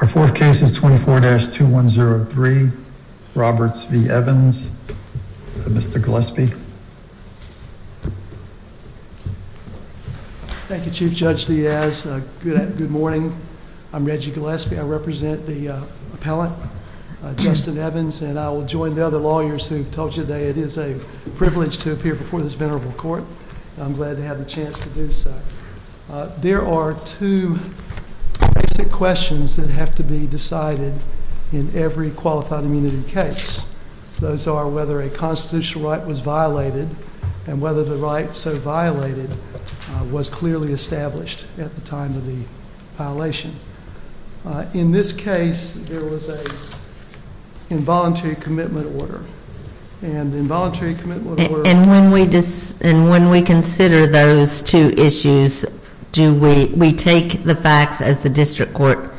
Our fourth case is 24-2103, Roberts v. Evans. Mr. Gillespie. Thank you, Chief Judge Diaz. Good morning. I'm Reggie Gillespie. I represent the appellant, Justin Evans, and I will join the other lawyers who have told you today it is a privilege to appear before this venerable court. I'm glad to have the chance to do so. There are two basic questions that have to be decided in every qualified immunity case. Those are whether a constitutional right was violated and whether the right so violated was clearly established at the time of the violation. In this case, there was an involuntary commitment order. And when we consider those two issues, do we take the facts as the district court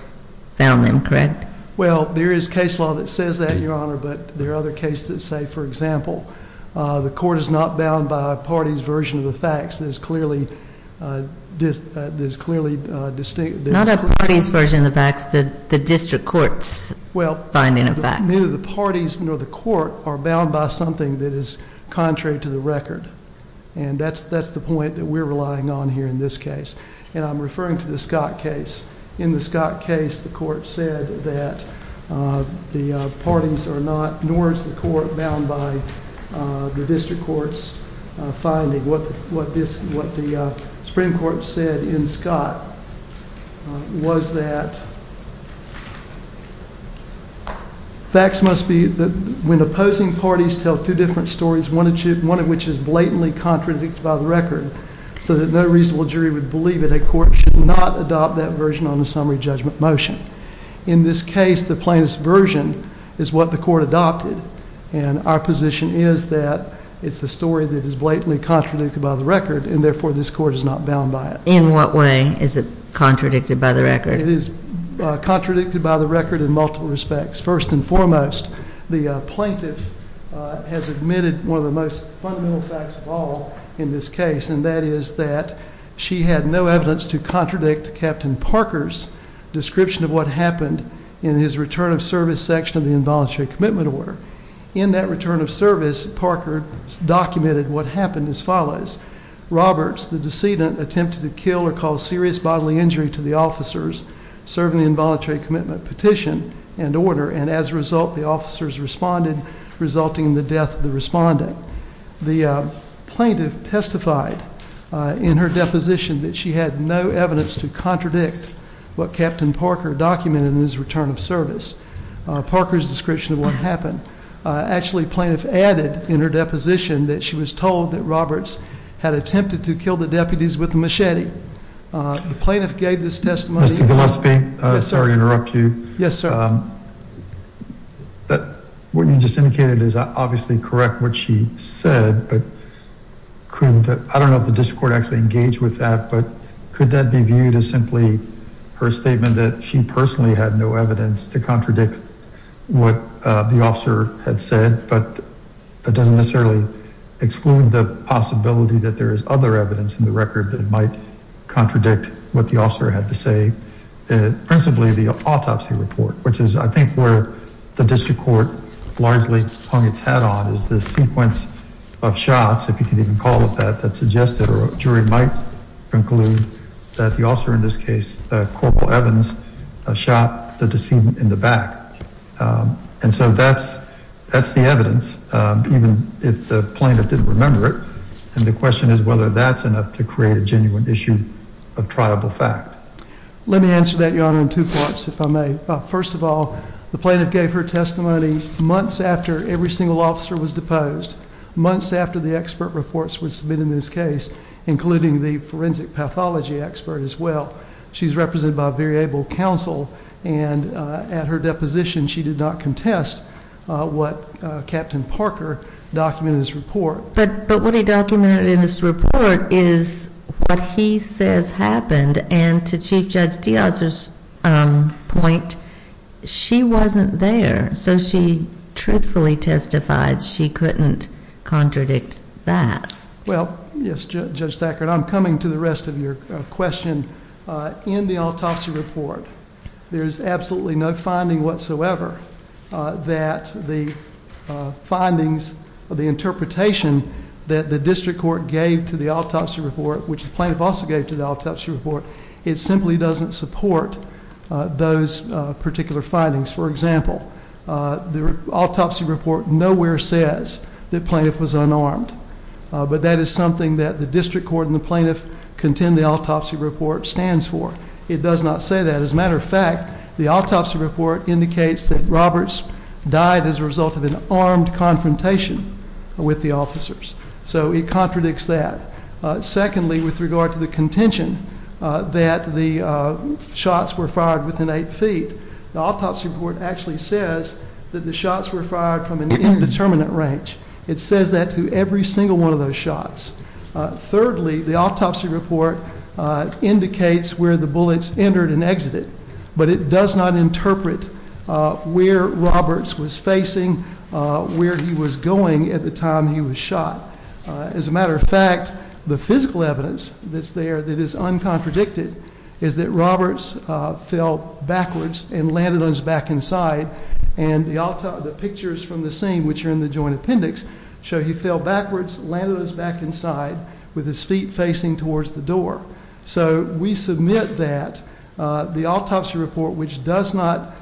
found them, correct? Well, there is case law that says that, Your Honor, but there are other cases that say, for example, the court is not bound by a party's version of the facts. Not a party's version of the facts, the district court's finding of facts. Well, neither the parties nor the court are bound by something that is contrary to the record. And that's the point that we're relying on here in this case. And I'm referring to the Scott case. In the Scott case, the court said that the parties are not, nor is the court, bound by the district court's finding. What the Supreme Court said in Scott was that facts must be, when opposing parties tell two different stories, one of which is blatantly contradicted by the record, so that no reasonable jury would believe it, a court should not adopt that version on the summary judgment motion. In this case, the plaintiff's version is what the court adopted. And our position is that it's a story that is blatantly contradicted by the record, and therefore this court is not bound by it. In what way is it contradicted by the record? It is contradicted by the record in multiple respects. First and foremost, the plaintiff has admitted one of the most fundamental facts of all in this case, and that is that she had no evidence to contradict Captain Parker's description of what happened in his return of service section of the involuntary commitment order. In that return of service, Parker documented what happened as follows. Roberts, the decedent, attempted to kill or cause serious bodily injury to the officers serving the involuntary commitment petition and order, and as a result, the officers responded, resulting in the death of the respondent. The plaintiff testified in her deposition that she had no evidence to contradict what Captain Parker documented in his return of service, Parker's description of what happened. Actually, the plaintiff added in her deposition that she was told that Roberts had attempted to kill the deputies with a machete. The plaintiff gave this testimony— Mr. Gillespie, sorry to interrupt you. Yes, sir. What you just indicated is obviously correct what she said, but could— I don't know if the district court actually engaged with that, but could that be viewed as simply her statement that she personally had no evidence to contradict what the officer had said, but that doesn't necessarily exclude the possibility that there is other evidence in the record that might contradict what the officer had to say, principally the autopsy report, which is, I think, where the district court largely hung its hat on, is the sequence of shots, if you can even call it that, that suggested or a jury might conclude that the officer, in this case, Coral Evans, shot the decedent in the back. And so that's the evidence, even if the plaintiff didn't remember it. And the question is whether that's enough to create a genuine issue of triable fact. Let me answer that, Your Honor, in two parts, if I may. First of all, the plaintiff gave her testimony months after every single officer was deposed, months after the expert reports were submitted in this case, including the forensic pathology expert as well. She's represented by a very able counsel, and at her deposition she did not contest what Captain Parker documented in his report. But what he documented in his report is what he says happened. And to Chief Judge Diaz's point, she wasn't there, so she truthfully testified she couldn't contradict that. Well, yes, Judge Thackert, I'm coming to the rest of your question. In the autopsy report, there's absolutely no finding whatsoever that the findings, the interpretation that the district court gave to the autopsy report, which the plaintiff also gave to the autopsy report, it simply doesn't support those particular findings. For example, the autopsy report nowhere says the plaintiff was unarmed. But that is something that the district court and the plaintiff contend the autopsy report stands for. It does not say that. As a matter of fact, the autopsy report indicates that Roberts died as a result of an armed confrontation with the officers. So it contradicts that. Secondly, with regard to the contention that the shots were fired within eight feet, the autopsy report actually says that the shots were fired from an indeterminate range. It says that to every single one of those shots. Thirdly, the autopsy report indicates where the bullets entered and exited, but it does not interpret where Roberts was facing, where he was going at the time he was shot. As a matter of fact, the physical evidence that's there that is uncontradicted is that Roberts fell backwards and landed on his back and side, and the pictures from the scene, which are in the joint appendix, show he fell backwards, landed on his back and side with his feet facing towards the door. So we submit that the autopsy report, which does not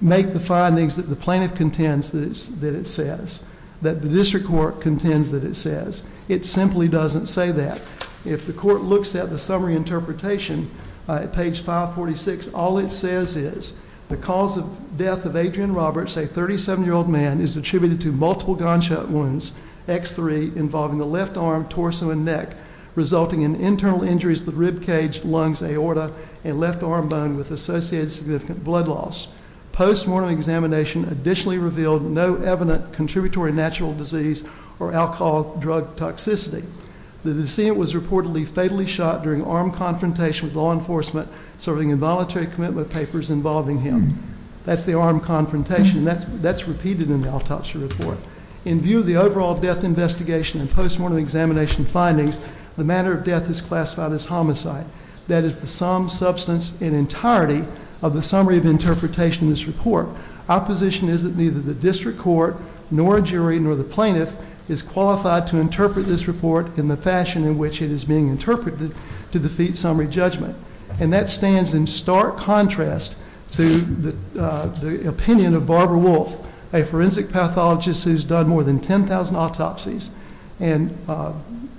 make the findings that the plaintiff contends that it says, that the district court contends that it says, it simply doesn't say that. If the court looks at the summary interpretation at page 546, all it says is the cause of death of Adrian Roberts, a 37-year-old man, is attributed to multiple gunshot wounds, X3, involving the left arm, torso, and neck, resulting in internal injuries to the ribcage, lungs, aorta, and left arm bone with associated significant blood loss. Postmortem examination additionally revealed no evident contributory natural disease or alcohol drug toxicity. The decedent was reportedly fatally shot during armed confrontation with law enforcement, serving involuntary commitment papers involving him. That's the armed confrontation, and that's repeated in the autopsy report. In view of the overall death investigation and postmortem examination findings, the matter of death is classified as homicide. That is the sum, substance, and entirety of the summary of interpretation in this report. Our position is that neither the district court nor a jury nor the plaintiff is qualified to interpret this report in the fashion in which it is being interpreted to defeat summary judgment. And that stands in stark contrast to the opinion of Barbara Wolfe, a forensic pathologist who's done more than 10,000 autopsies. And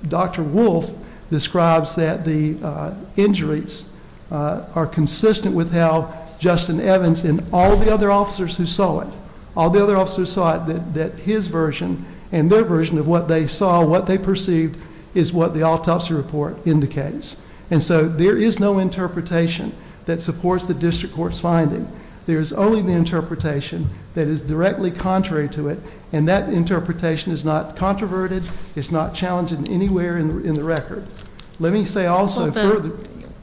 Dr. Wolfe describes that the injuries are consistent with how Justin Evans and all the other officers who saw it, all the other officers who saw it, that his version and their version of what they saw, what they perceived, is what the autopsy report indicates. And so there is no interpretation that supports the district court's finding. There is only the interpretation that is directly contrary to it, and that interpretation is not controverted, it's not challenging anywhere in the record. Let me say also further.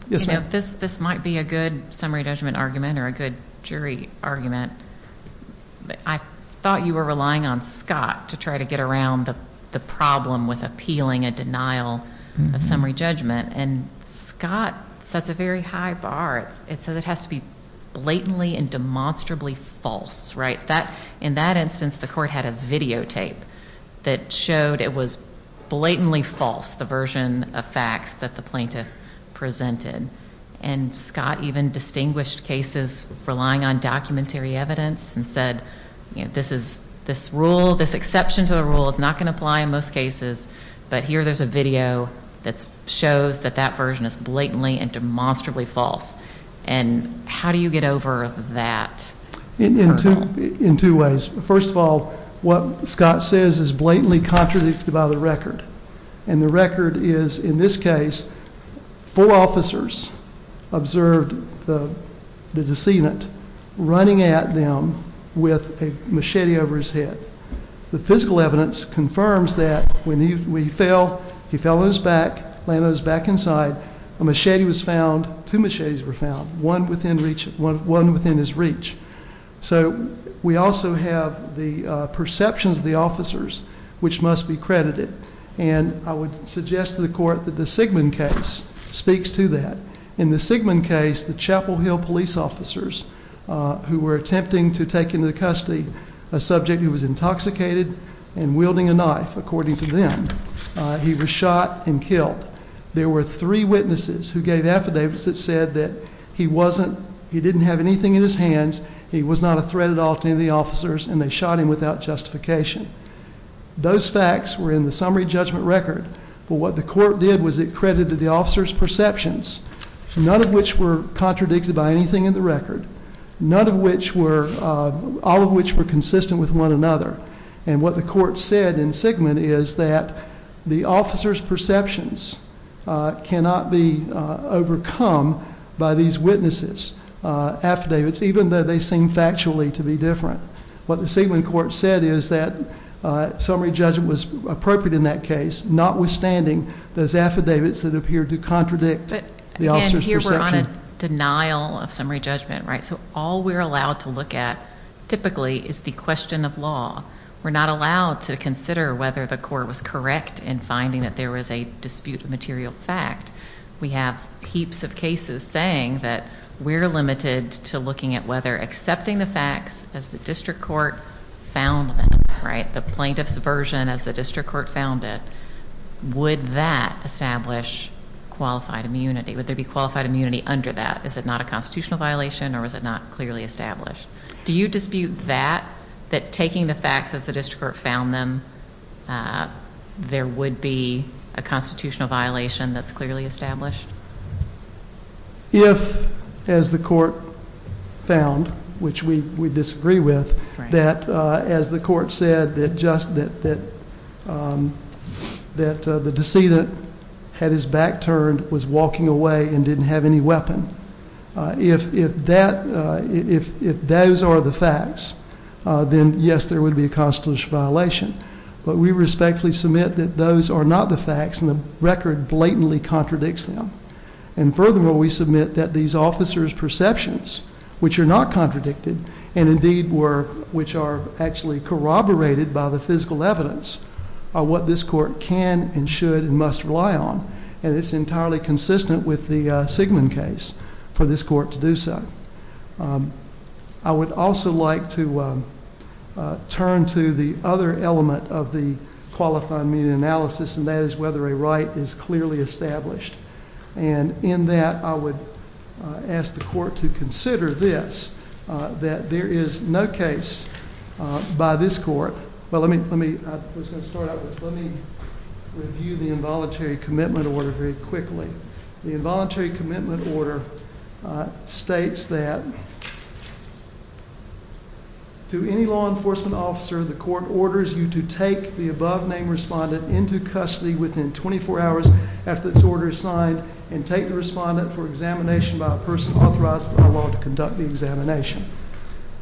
This might be a good summary judgment argument or a good jury argument. I thought you were relying on Scott to try to get around the problem with appealing a denial of summary judgment, and Scott sets a very high bar. It says it has to be blatantly and demonstrably false, right? In that instance, the court had a videotape that showed it was blatantly false, the version of facts that the plaintiff presented. And Scott even distinguished cases relying on documentary evidence and said, you know, this rule, this exception to the rule is not going to apply in most cases, but here there's a video that shows that that version is blatantly and demonstrably false. And how do you get over that? In two ways. First of all, what Scott says is blatantly contradicted by the record, and the record is in this case four officers observed the decedent running at them with a machete over his head. The physical evidence confirms that when he fell, he fell on his back, landed on his back and side, a machete was found, two machetes were found, one within reach, one within his reach. So we also have the perceptions of the officers which must be credited, and I would suggest to the court that the Sigmund case speaks to that. In the Sigmund case, the Chapel Hill police officers who were attempting to take into custody a subject who was intoxicated and wielding a knife, according to them, he was shot and killed. There were three witnesses who gave affidavits that said that he wasn't, he didn't have anything in his hands, he was not a threat at all to any of the officers, and they shot him without justification. Those facts were in the summary judgment record, but what the court did was it credited the officers' perceptions, none of which were contradicted by anything in the record, none of which were, all of which were consistent with one another. And what the court said in Sigmund is that the officers' perceptions cannot be overcome by these witnesses' affidavits, even though they seem factually to be different. What the Sigmund court said is that summary judgment was appropriate in that case, notwithstanding those affidavits that appear to contradict the officers' perceptions. We're on a denial of summary judgment, right? So all we're allowed to look at typically is the question of law. We're not allowed to consider whether the court was correct in finding that there was a dispute of material fact. We have heaps of cases saying that we're limited to looking at whether accepting the facts as the district court found them, right, the plaintiff's version as the district court found it, would that establish qualified immunity? Would there be qualified immunity under that? Is it not a constitutional violation or is it not clearly established? Do you dispute that, that taking the facts as the district court found them, there would be a constitutional violation that's clearly established? If, as the court found, which we disagree with, that as the court said, that the decedent had his back turned, was walking away, and didn't have any weapon, if those are the facts, then, yes, there would be a constitutional violation. But we respectfully submit that those are not the facts, and the record blatantly contradicts them. And furthermore, we submit that these officers' perceptions, which are not contradicted, and, indeed, which are actually corroborated by the physical evidence, are what this court can and should and must rely on. And it's entirely consistent with the Sigmund case for this court to do so. I would also like to turn to the other element of the qualified immunity analysis, and that is whether a right is clearly established. And in that, I would ask the court to consider this, that there is no case by this court. But let me review the involuntary commitment order very quickly. The involuntary commitment order states that to any law enforcement officer, the court orders you to take the above-name respondent into custody within 24 hours after this order is signed and take the respondent for examination by a person authorized by law to conduct the examination.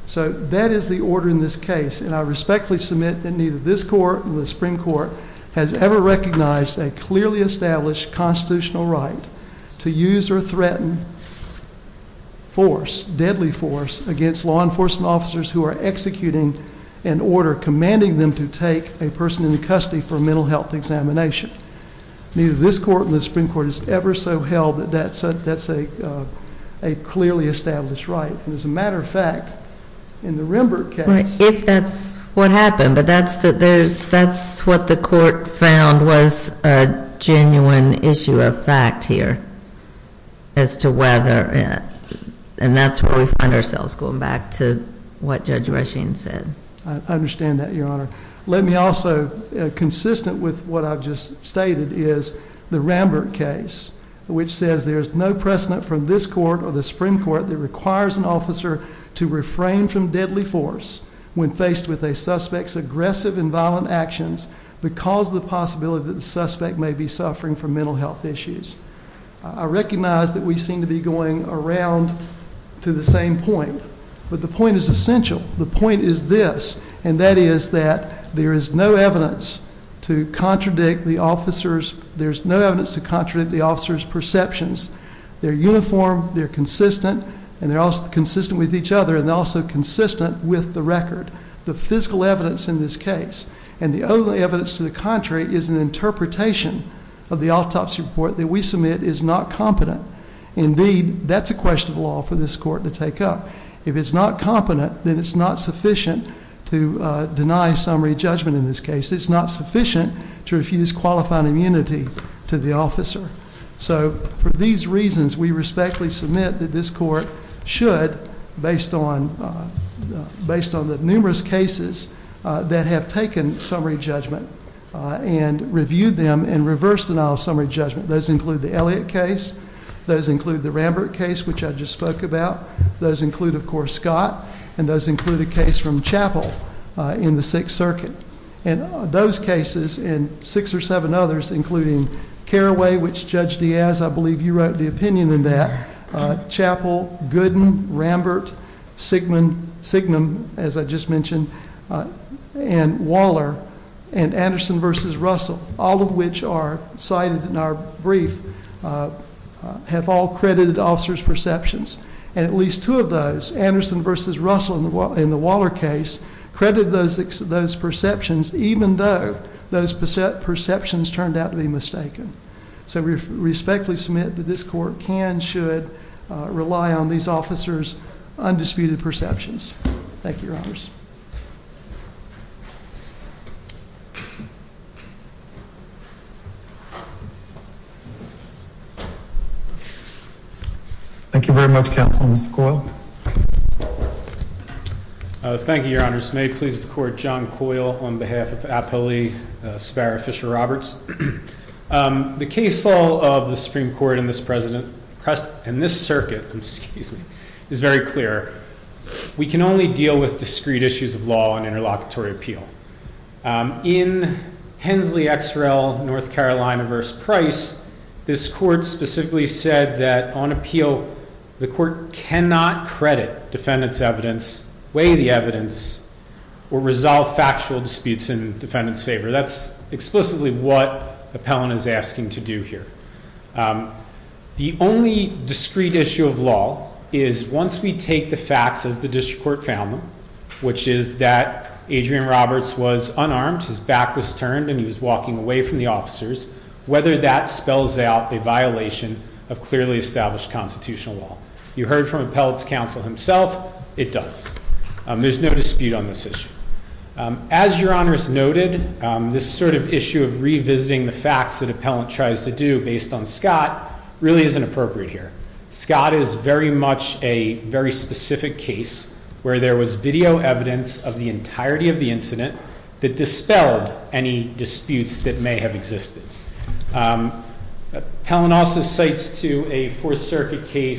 So that is the order in this case, and I respectfully submit that neither this court nor the Supreme Court has ever recognized a clearly established constitutional right to use or threaten force, deadly force, against law enforcement officers who are executing an order commanding them to take a person into custody for a mental health examination. Neither this court nor the Supreme Court has ever so held that that's a clearly established right. And as a matter of fact, in the Rembert case ---- Right, if that's what happened. But that's what the court found was a genuine issue of fact here as to whether, and that's where we find ourselves going back to what Judge Rushing said. I understand that, Your Honor. Let me also, consistent with what I've just stated, is the Rembert case, which says there is no precedent from this court or the Supreme Court that requires an officer to refrain from deadly force when faced with a suspect's aggressive and violent actions because of the possibility that the suspect may be suffering from mental health issues. I recognize that we seem to be going around to the same point, but the point is essential. The point is this, and that is that there is no evidence to contradict the officer's perceptions. They're uniform, they're consistent, and they're also consistent with each other, and they're also consistent with the record. The physical evidence in this case and the other evidence to the contrary is an interpretation of the autopsy report that we submit is not competent. Indeed, that's a question of law for this court to take up. If it's not competent, then it's not sufficient to deny summary judgment in this case. It's not sufficient to refuse qualifying immunity to the officer. So for these reasons, we respectfully submit that this court should, based on the numerous cases that have taken summary judgment and reviewed them in reverse denial of summary judgment, those include the Elliott case, those include the Rembert case, which I just spoke about, those include, of course, Scott, and those include a case from Chappell in the Sixth Circuit. And those cases and six or seven others, including Carraway, which Judge Diaz, I believe you wrote the opinion in that, Chappell, Gooden, Rembert, Signum, as I just mentioned, and Waller, and Anderson v. Russell, all of which are cited in our brief, have all credited officers' perceptions. And at least two of those, Anderson v. Russell in the Waller case, credited those perceptions, even though those perceptions turned out to be mistaken. So we respectfully submit that this court can, should rely on these officers' undisputed perceptions. Thank you, Your Honors. Thank you very much, Counsel, Mr. Coyle. Thank you, Your Honors. May it please the Court, John Coyle on behalf of Appellee Sparrow Fisher-Roberts. The case law of the Supreme Court in this circuit is very clear. We can only deal with discrete cases. We can only deal with discrete issues of law and interlocutory appeal. In Hensley X. Rel., North Carolina v. Price, this court specifically said that on appeal, the court cannot credit defendant's evidence, weigh the evidence, or resolve factual disputes in defendant's favor. That's explicitly what Appellant is asking to do here. The only discrete issue of law is once we take the facts as the district court found them, which is that Adrian Roberts was unarmed, his back was turned, and he was walking away from the officers, whether that spells out a violation of clearly established constitutional law. You heard from Appellant's counsel himself, it does. There's no dispute on this issue. As Your Honors noted, this sort of issue of revisiting the facts that Appellant tries to do based on Scott really isn't appropriate here. Scott is very much a very specific case where there was video evidence of the entirety of the incident that dispelled any disputes that may have existed. Appellant also cites to a Fourth Circuit case-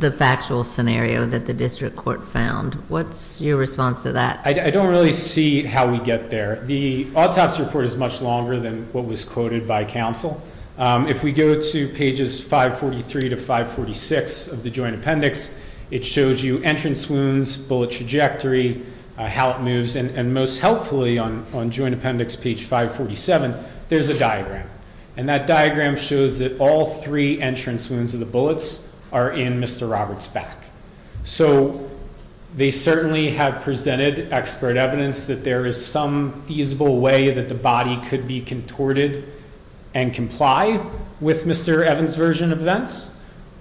The factual scenario that the district court found. What's your response to that? I don't really see how we get there. The autopsy report is much longer than what was quoted by counsel. If we go to pages 543 to 546 of the joint appendix, it shows you entrance wounds, bullet trajectory, how it moves, and most helpfully on joint appendix page 547, there's a diagram. And that diagram shows that all three entrance wounds of the bullets are in Mr. Roberts' back. So they certainly have presented expert evidence that there is some feasible way that the body could be contorted and comply with Mr. Evans' version of events.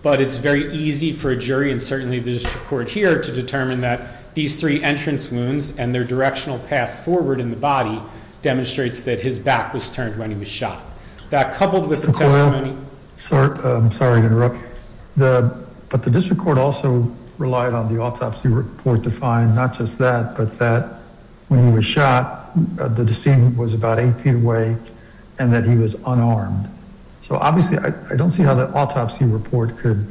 But it's very easy for a jury, and certainly the district court here, to determine that these three entrance wounds and their directional path forward in the body demonstrates that his back was turned when he was shot. That coupled with the testimony- McCoy, I'm sorry to interrupt. But the district court also relied on the autopsy report to find not just that, but that when he was shot, the decedent was about eight feet away and that he was unarmed. So obviously, I don't see how that autopsy report could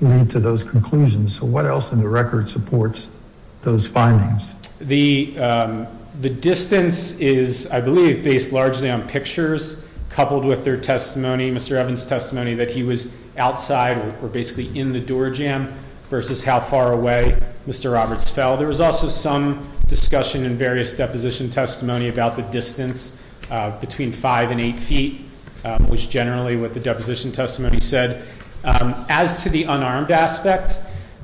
lead to those conclusions. So what else in the record supports those findings? The distance is, I believe, based largely on pictures coupled with their testimony, Mr. Evans' testimony that he was outside or basically in the door jamb versus how far away Mr. Roberts fell. There was also some discussion in various deposition testimony about the distance between five and eight feet, which generally what the deposition testimony said. As to the unarmed aspect,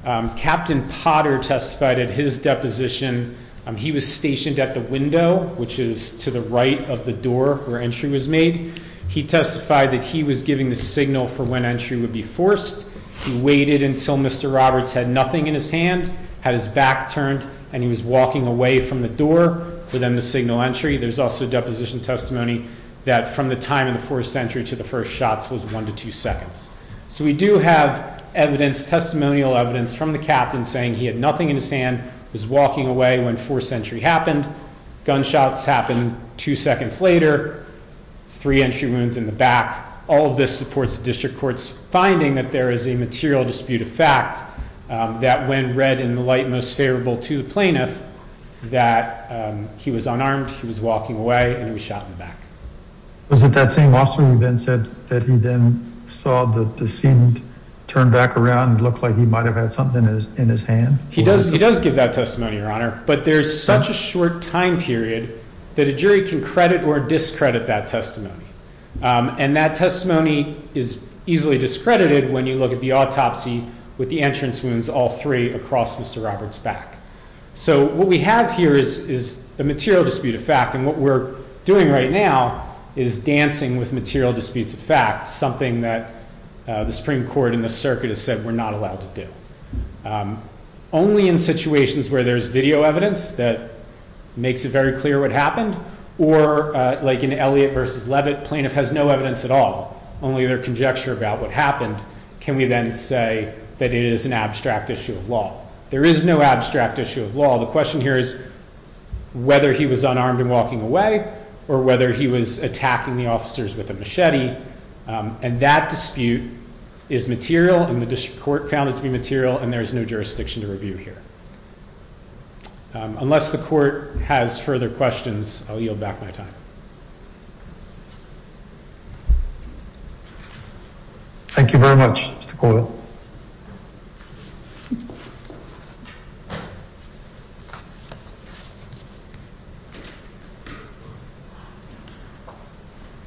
Captain Potter testified at his deposition. He was stationed at the window, which is to the right of the door where entry was made. He testified that he was giving the signal for when entry would be forced. He waited until Mr. Roberts had nothing in his hand, had his back turned, and he was walking away from the door for them to signal entry. There's also deposition testimony that from the time in the forced entry to the first shots was one to two seconds. So we do have evidence, testimonial evidence, from the captain saying he had nothing in his hand, was walking away when forced entry happened, gunshots happened two seconds later, three entry wounds in the back. All of this supports the district court's finding that there is a material dispute of fact that when read in the light most favorable to the plaintiff, that he was unarmed, he was walking away, and he was shot in the back. Was it that same officer who then said that he then saw the scene turned back around and looked like he might have had something in his hand? He does give that testimony, Your Honor, but there's such a short time period that a jury can credit or discredit that testimony. And that testimony is easily discredited when you look at the autopsy with the entrance wounds all three across Mr. Roberts' back. So what we have here is a material dispute of fact, and what we're doing right now is dancing with material disputes of fact, something that the Supreme Court in this circuit has said we're not allowed to do. Only in situations where there's video evidence that makes it very clear what happened, or like in Elliott versus Levitt, plaintiff has no evidence at all, only their conjecture about what happened, can we then say that it is an abstract issue of law. There is no abstract issue of law. The question here is whether he was unarmed and walking away or whether he was attacking the officers with a machete, and that dispute is material, and the district court found it to be material, and there is no jurisdiction to review here. Unless the court has further questions, I'll yield back my time. Thank you very much, Mr. Coyle.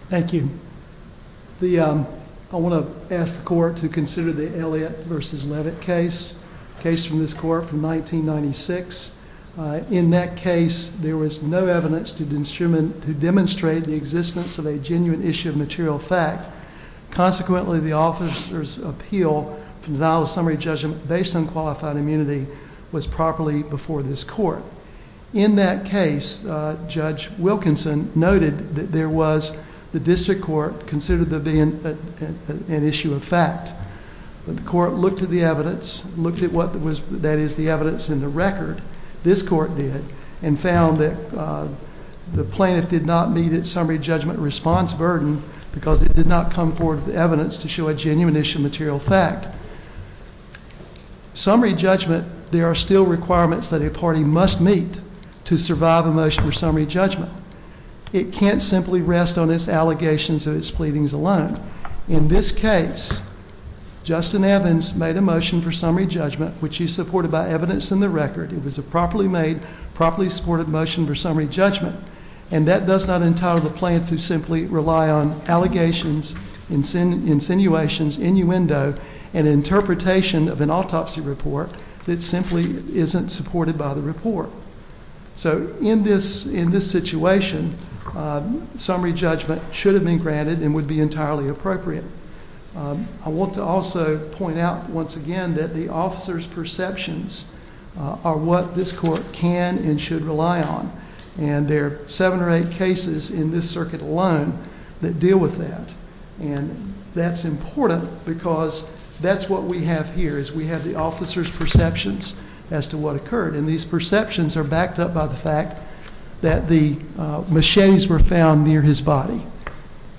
Thank you. I want to ask the court to consider the Elliott versus Levitt case, a case from this court from 1996. In that case, there was no evidence to demonstrate the existence of a genuine issue of material fact. Consequently, the officer's appeal for denial of summary judgment based on qualified immunity was properly before this court. In that case, Judge Wilkinson noted that there was, the district court considered there being an issue of fact. The court looked at the evidence, looked at what was, that is, the evidence in the record, this court did, and found that the plaintiff did not meet its summary judgment response burden because it did not come forward with evidence to show a genuine issue of material fact. Summary judgment, there are still requirements that a party must meet to survive a motion for summary judgment. It can't simply rest on its allegations of its pleadings alone. In this case, Justin Evans made a motion for summary judgment, which he supported by evidence in the record. It was a properly made, properly supported motion for summary judgment, and that does not entitle the plaintiff to simply rely on allegations, insinuations, innuendo, and interpretation of an autopsy report that simply isn't supported by the report. So in this situation, summary judgment should have been granted and would be entirely appropriate. I want to also point out once again that the officer's perceptions are what this court can and should rely on, and there are seven or eight cases in this circuit alone that deal with that, and that's important because that's what we have here is we have the officer's perceptions as to what occurred, and these perceptions are backed up by the fact that the machetes were found near his body,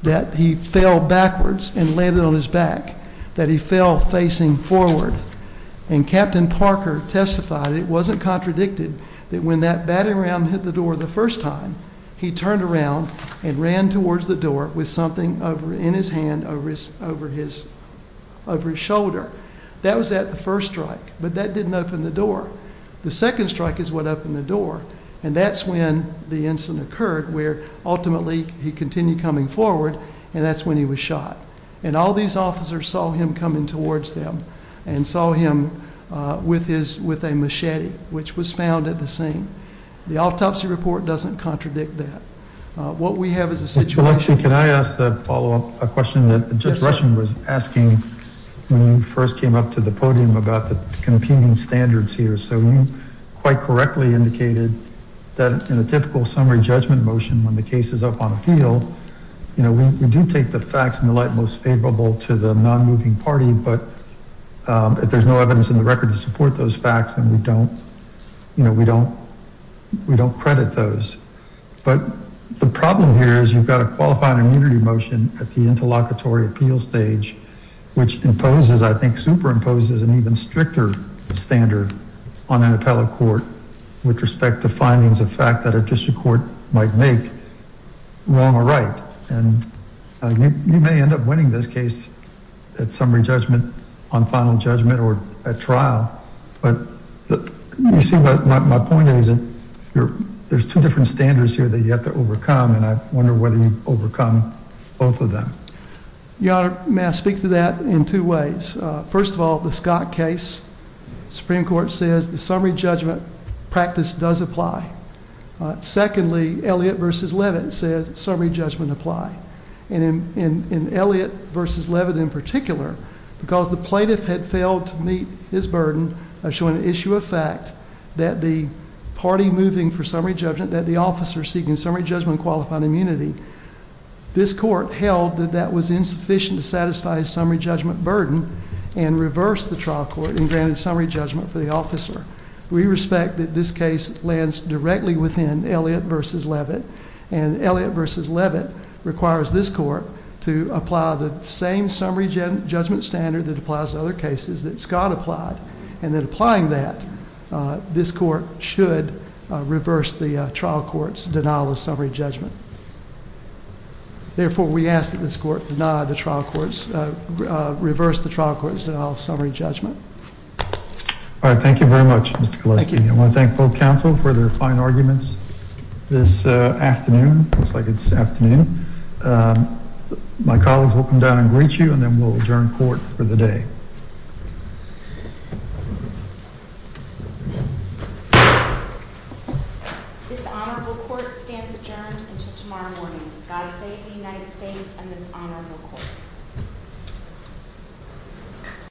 that he fell backwards and landed on his back, that he fell facing forward, and Captain Parker testified it wasn't contradicted that when that batting round hit the door the first time, he turned around and ran towards the door with something in his hand over his shoulder. That was at the first strike, but that didn't open the door. The second strike is what opened the door, and that's when the incident occurred, where ultimately he continued coming forward, and that's when he was shot, and all these officers saw him coming towards them and saw him with a machete, which was found at the scene. The autopsy report doesn't contradict that. What we have is a situation. Can I ask a follow-up question? Yes, sir. Judge Rushing was asking when you first came up to the podium about the competing standards here, so you quite correctly indicated that in a typical summary judgment motion, when the case is up on appeal, you know, we do take the facts in the light most favorable to the non-moving party, but if there's no evidence in the record to support those facts, then we don't, you know, we don't credit those, but the problem here is you've got a qualifying immunity motion at the interlocutory appeal stage, which imposes, I think, superimposes an even stricter standard on an appellate court, with respect to findings of fact that a district court might make wrong or right, and you may end up winning this case at summary judgment on final judgment or at trial, but you see what my point is, there's two different standards here that you have to overcome, and I wonder whether you overcome both of them. Your Honor, may I speak to that in two ways? First of all, the Scott case, Supreme Court says the summary judgment practice does apply. Secondly, Elliott v. Levitt says summary judgment apply, and in Elliott v. Levitt in particular, because the plaintiff had failed to meet his burden of showing an issue of fact that the party moving for summary judgment, that the officer seeking summary judgment qualified immunity, this court held that that was insufficient to satisfy his summary judgment burden and reversed the trial court and granted summary judgment for the officer. We respect that this case lands directly within Elliott v. Levitt, and Elliott v. Levitt requires this court to apply the same summary judgment standard that applies to other cases that Scott applied, and then applying that, this court should reverse the trial court's denial of summary judgment. Therefore, we ask that this court reverse the trial court's denial of summary judgment. All right. Thank you very much, Mr. Gillespie. I want to thank both counsel for their fine arguments this afternoon. It looks like it's afternoon. My colleagues will come down and greet you, and then we'll adjourn court for the day. This honorable court stands adjourned until tomorrow morning. God save the United States and this honorable court.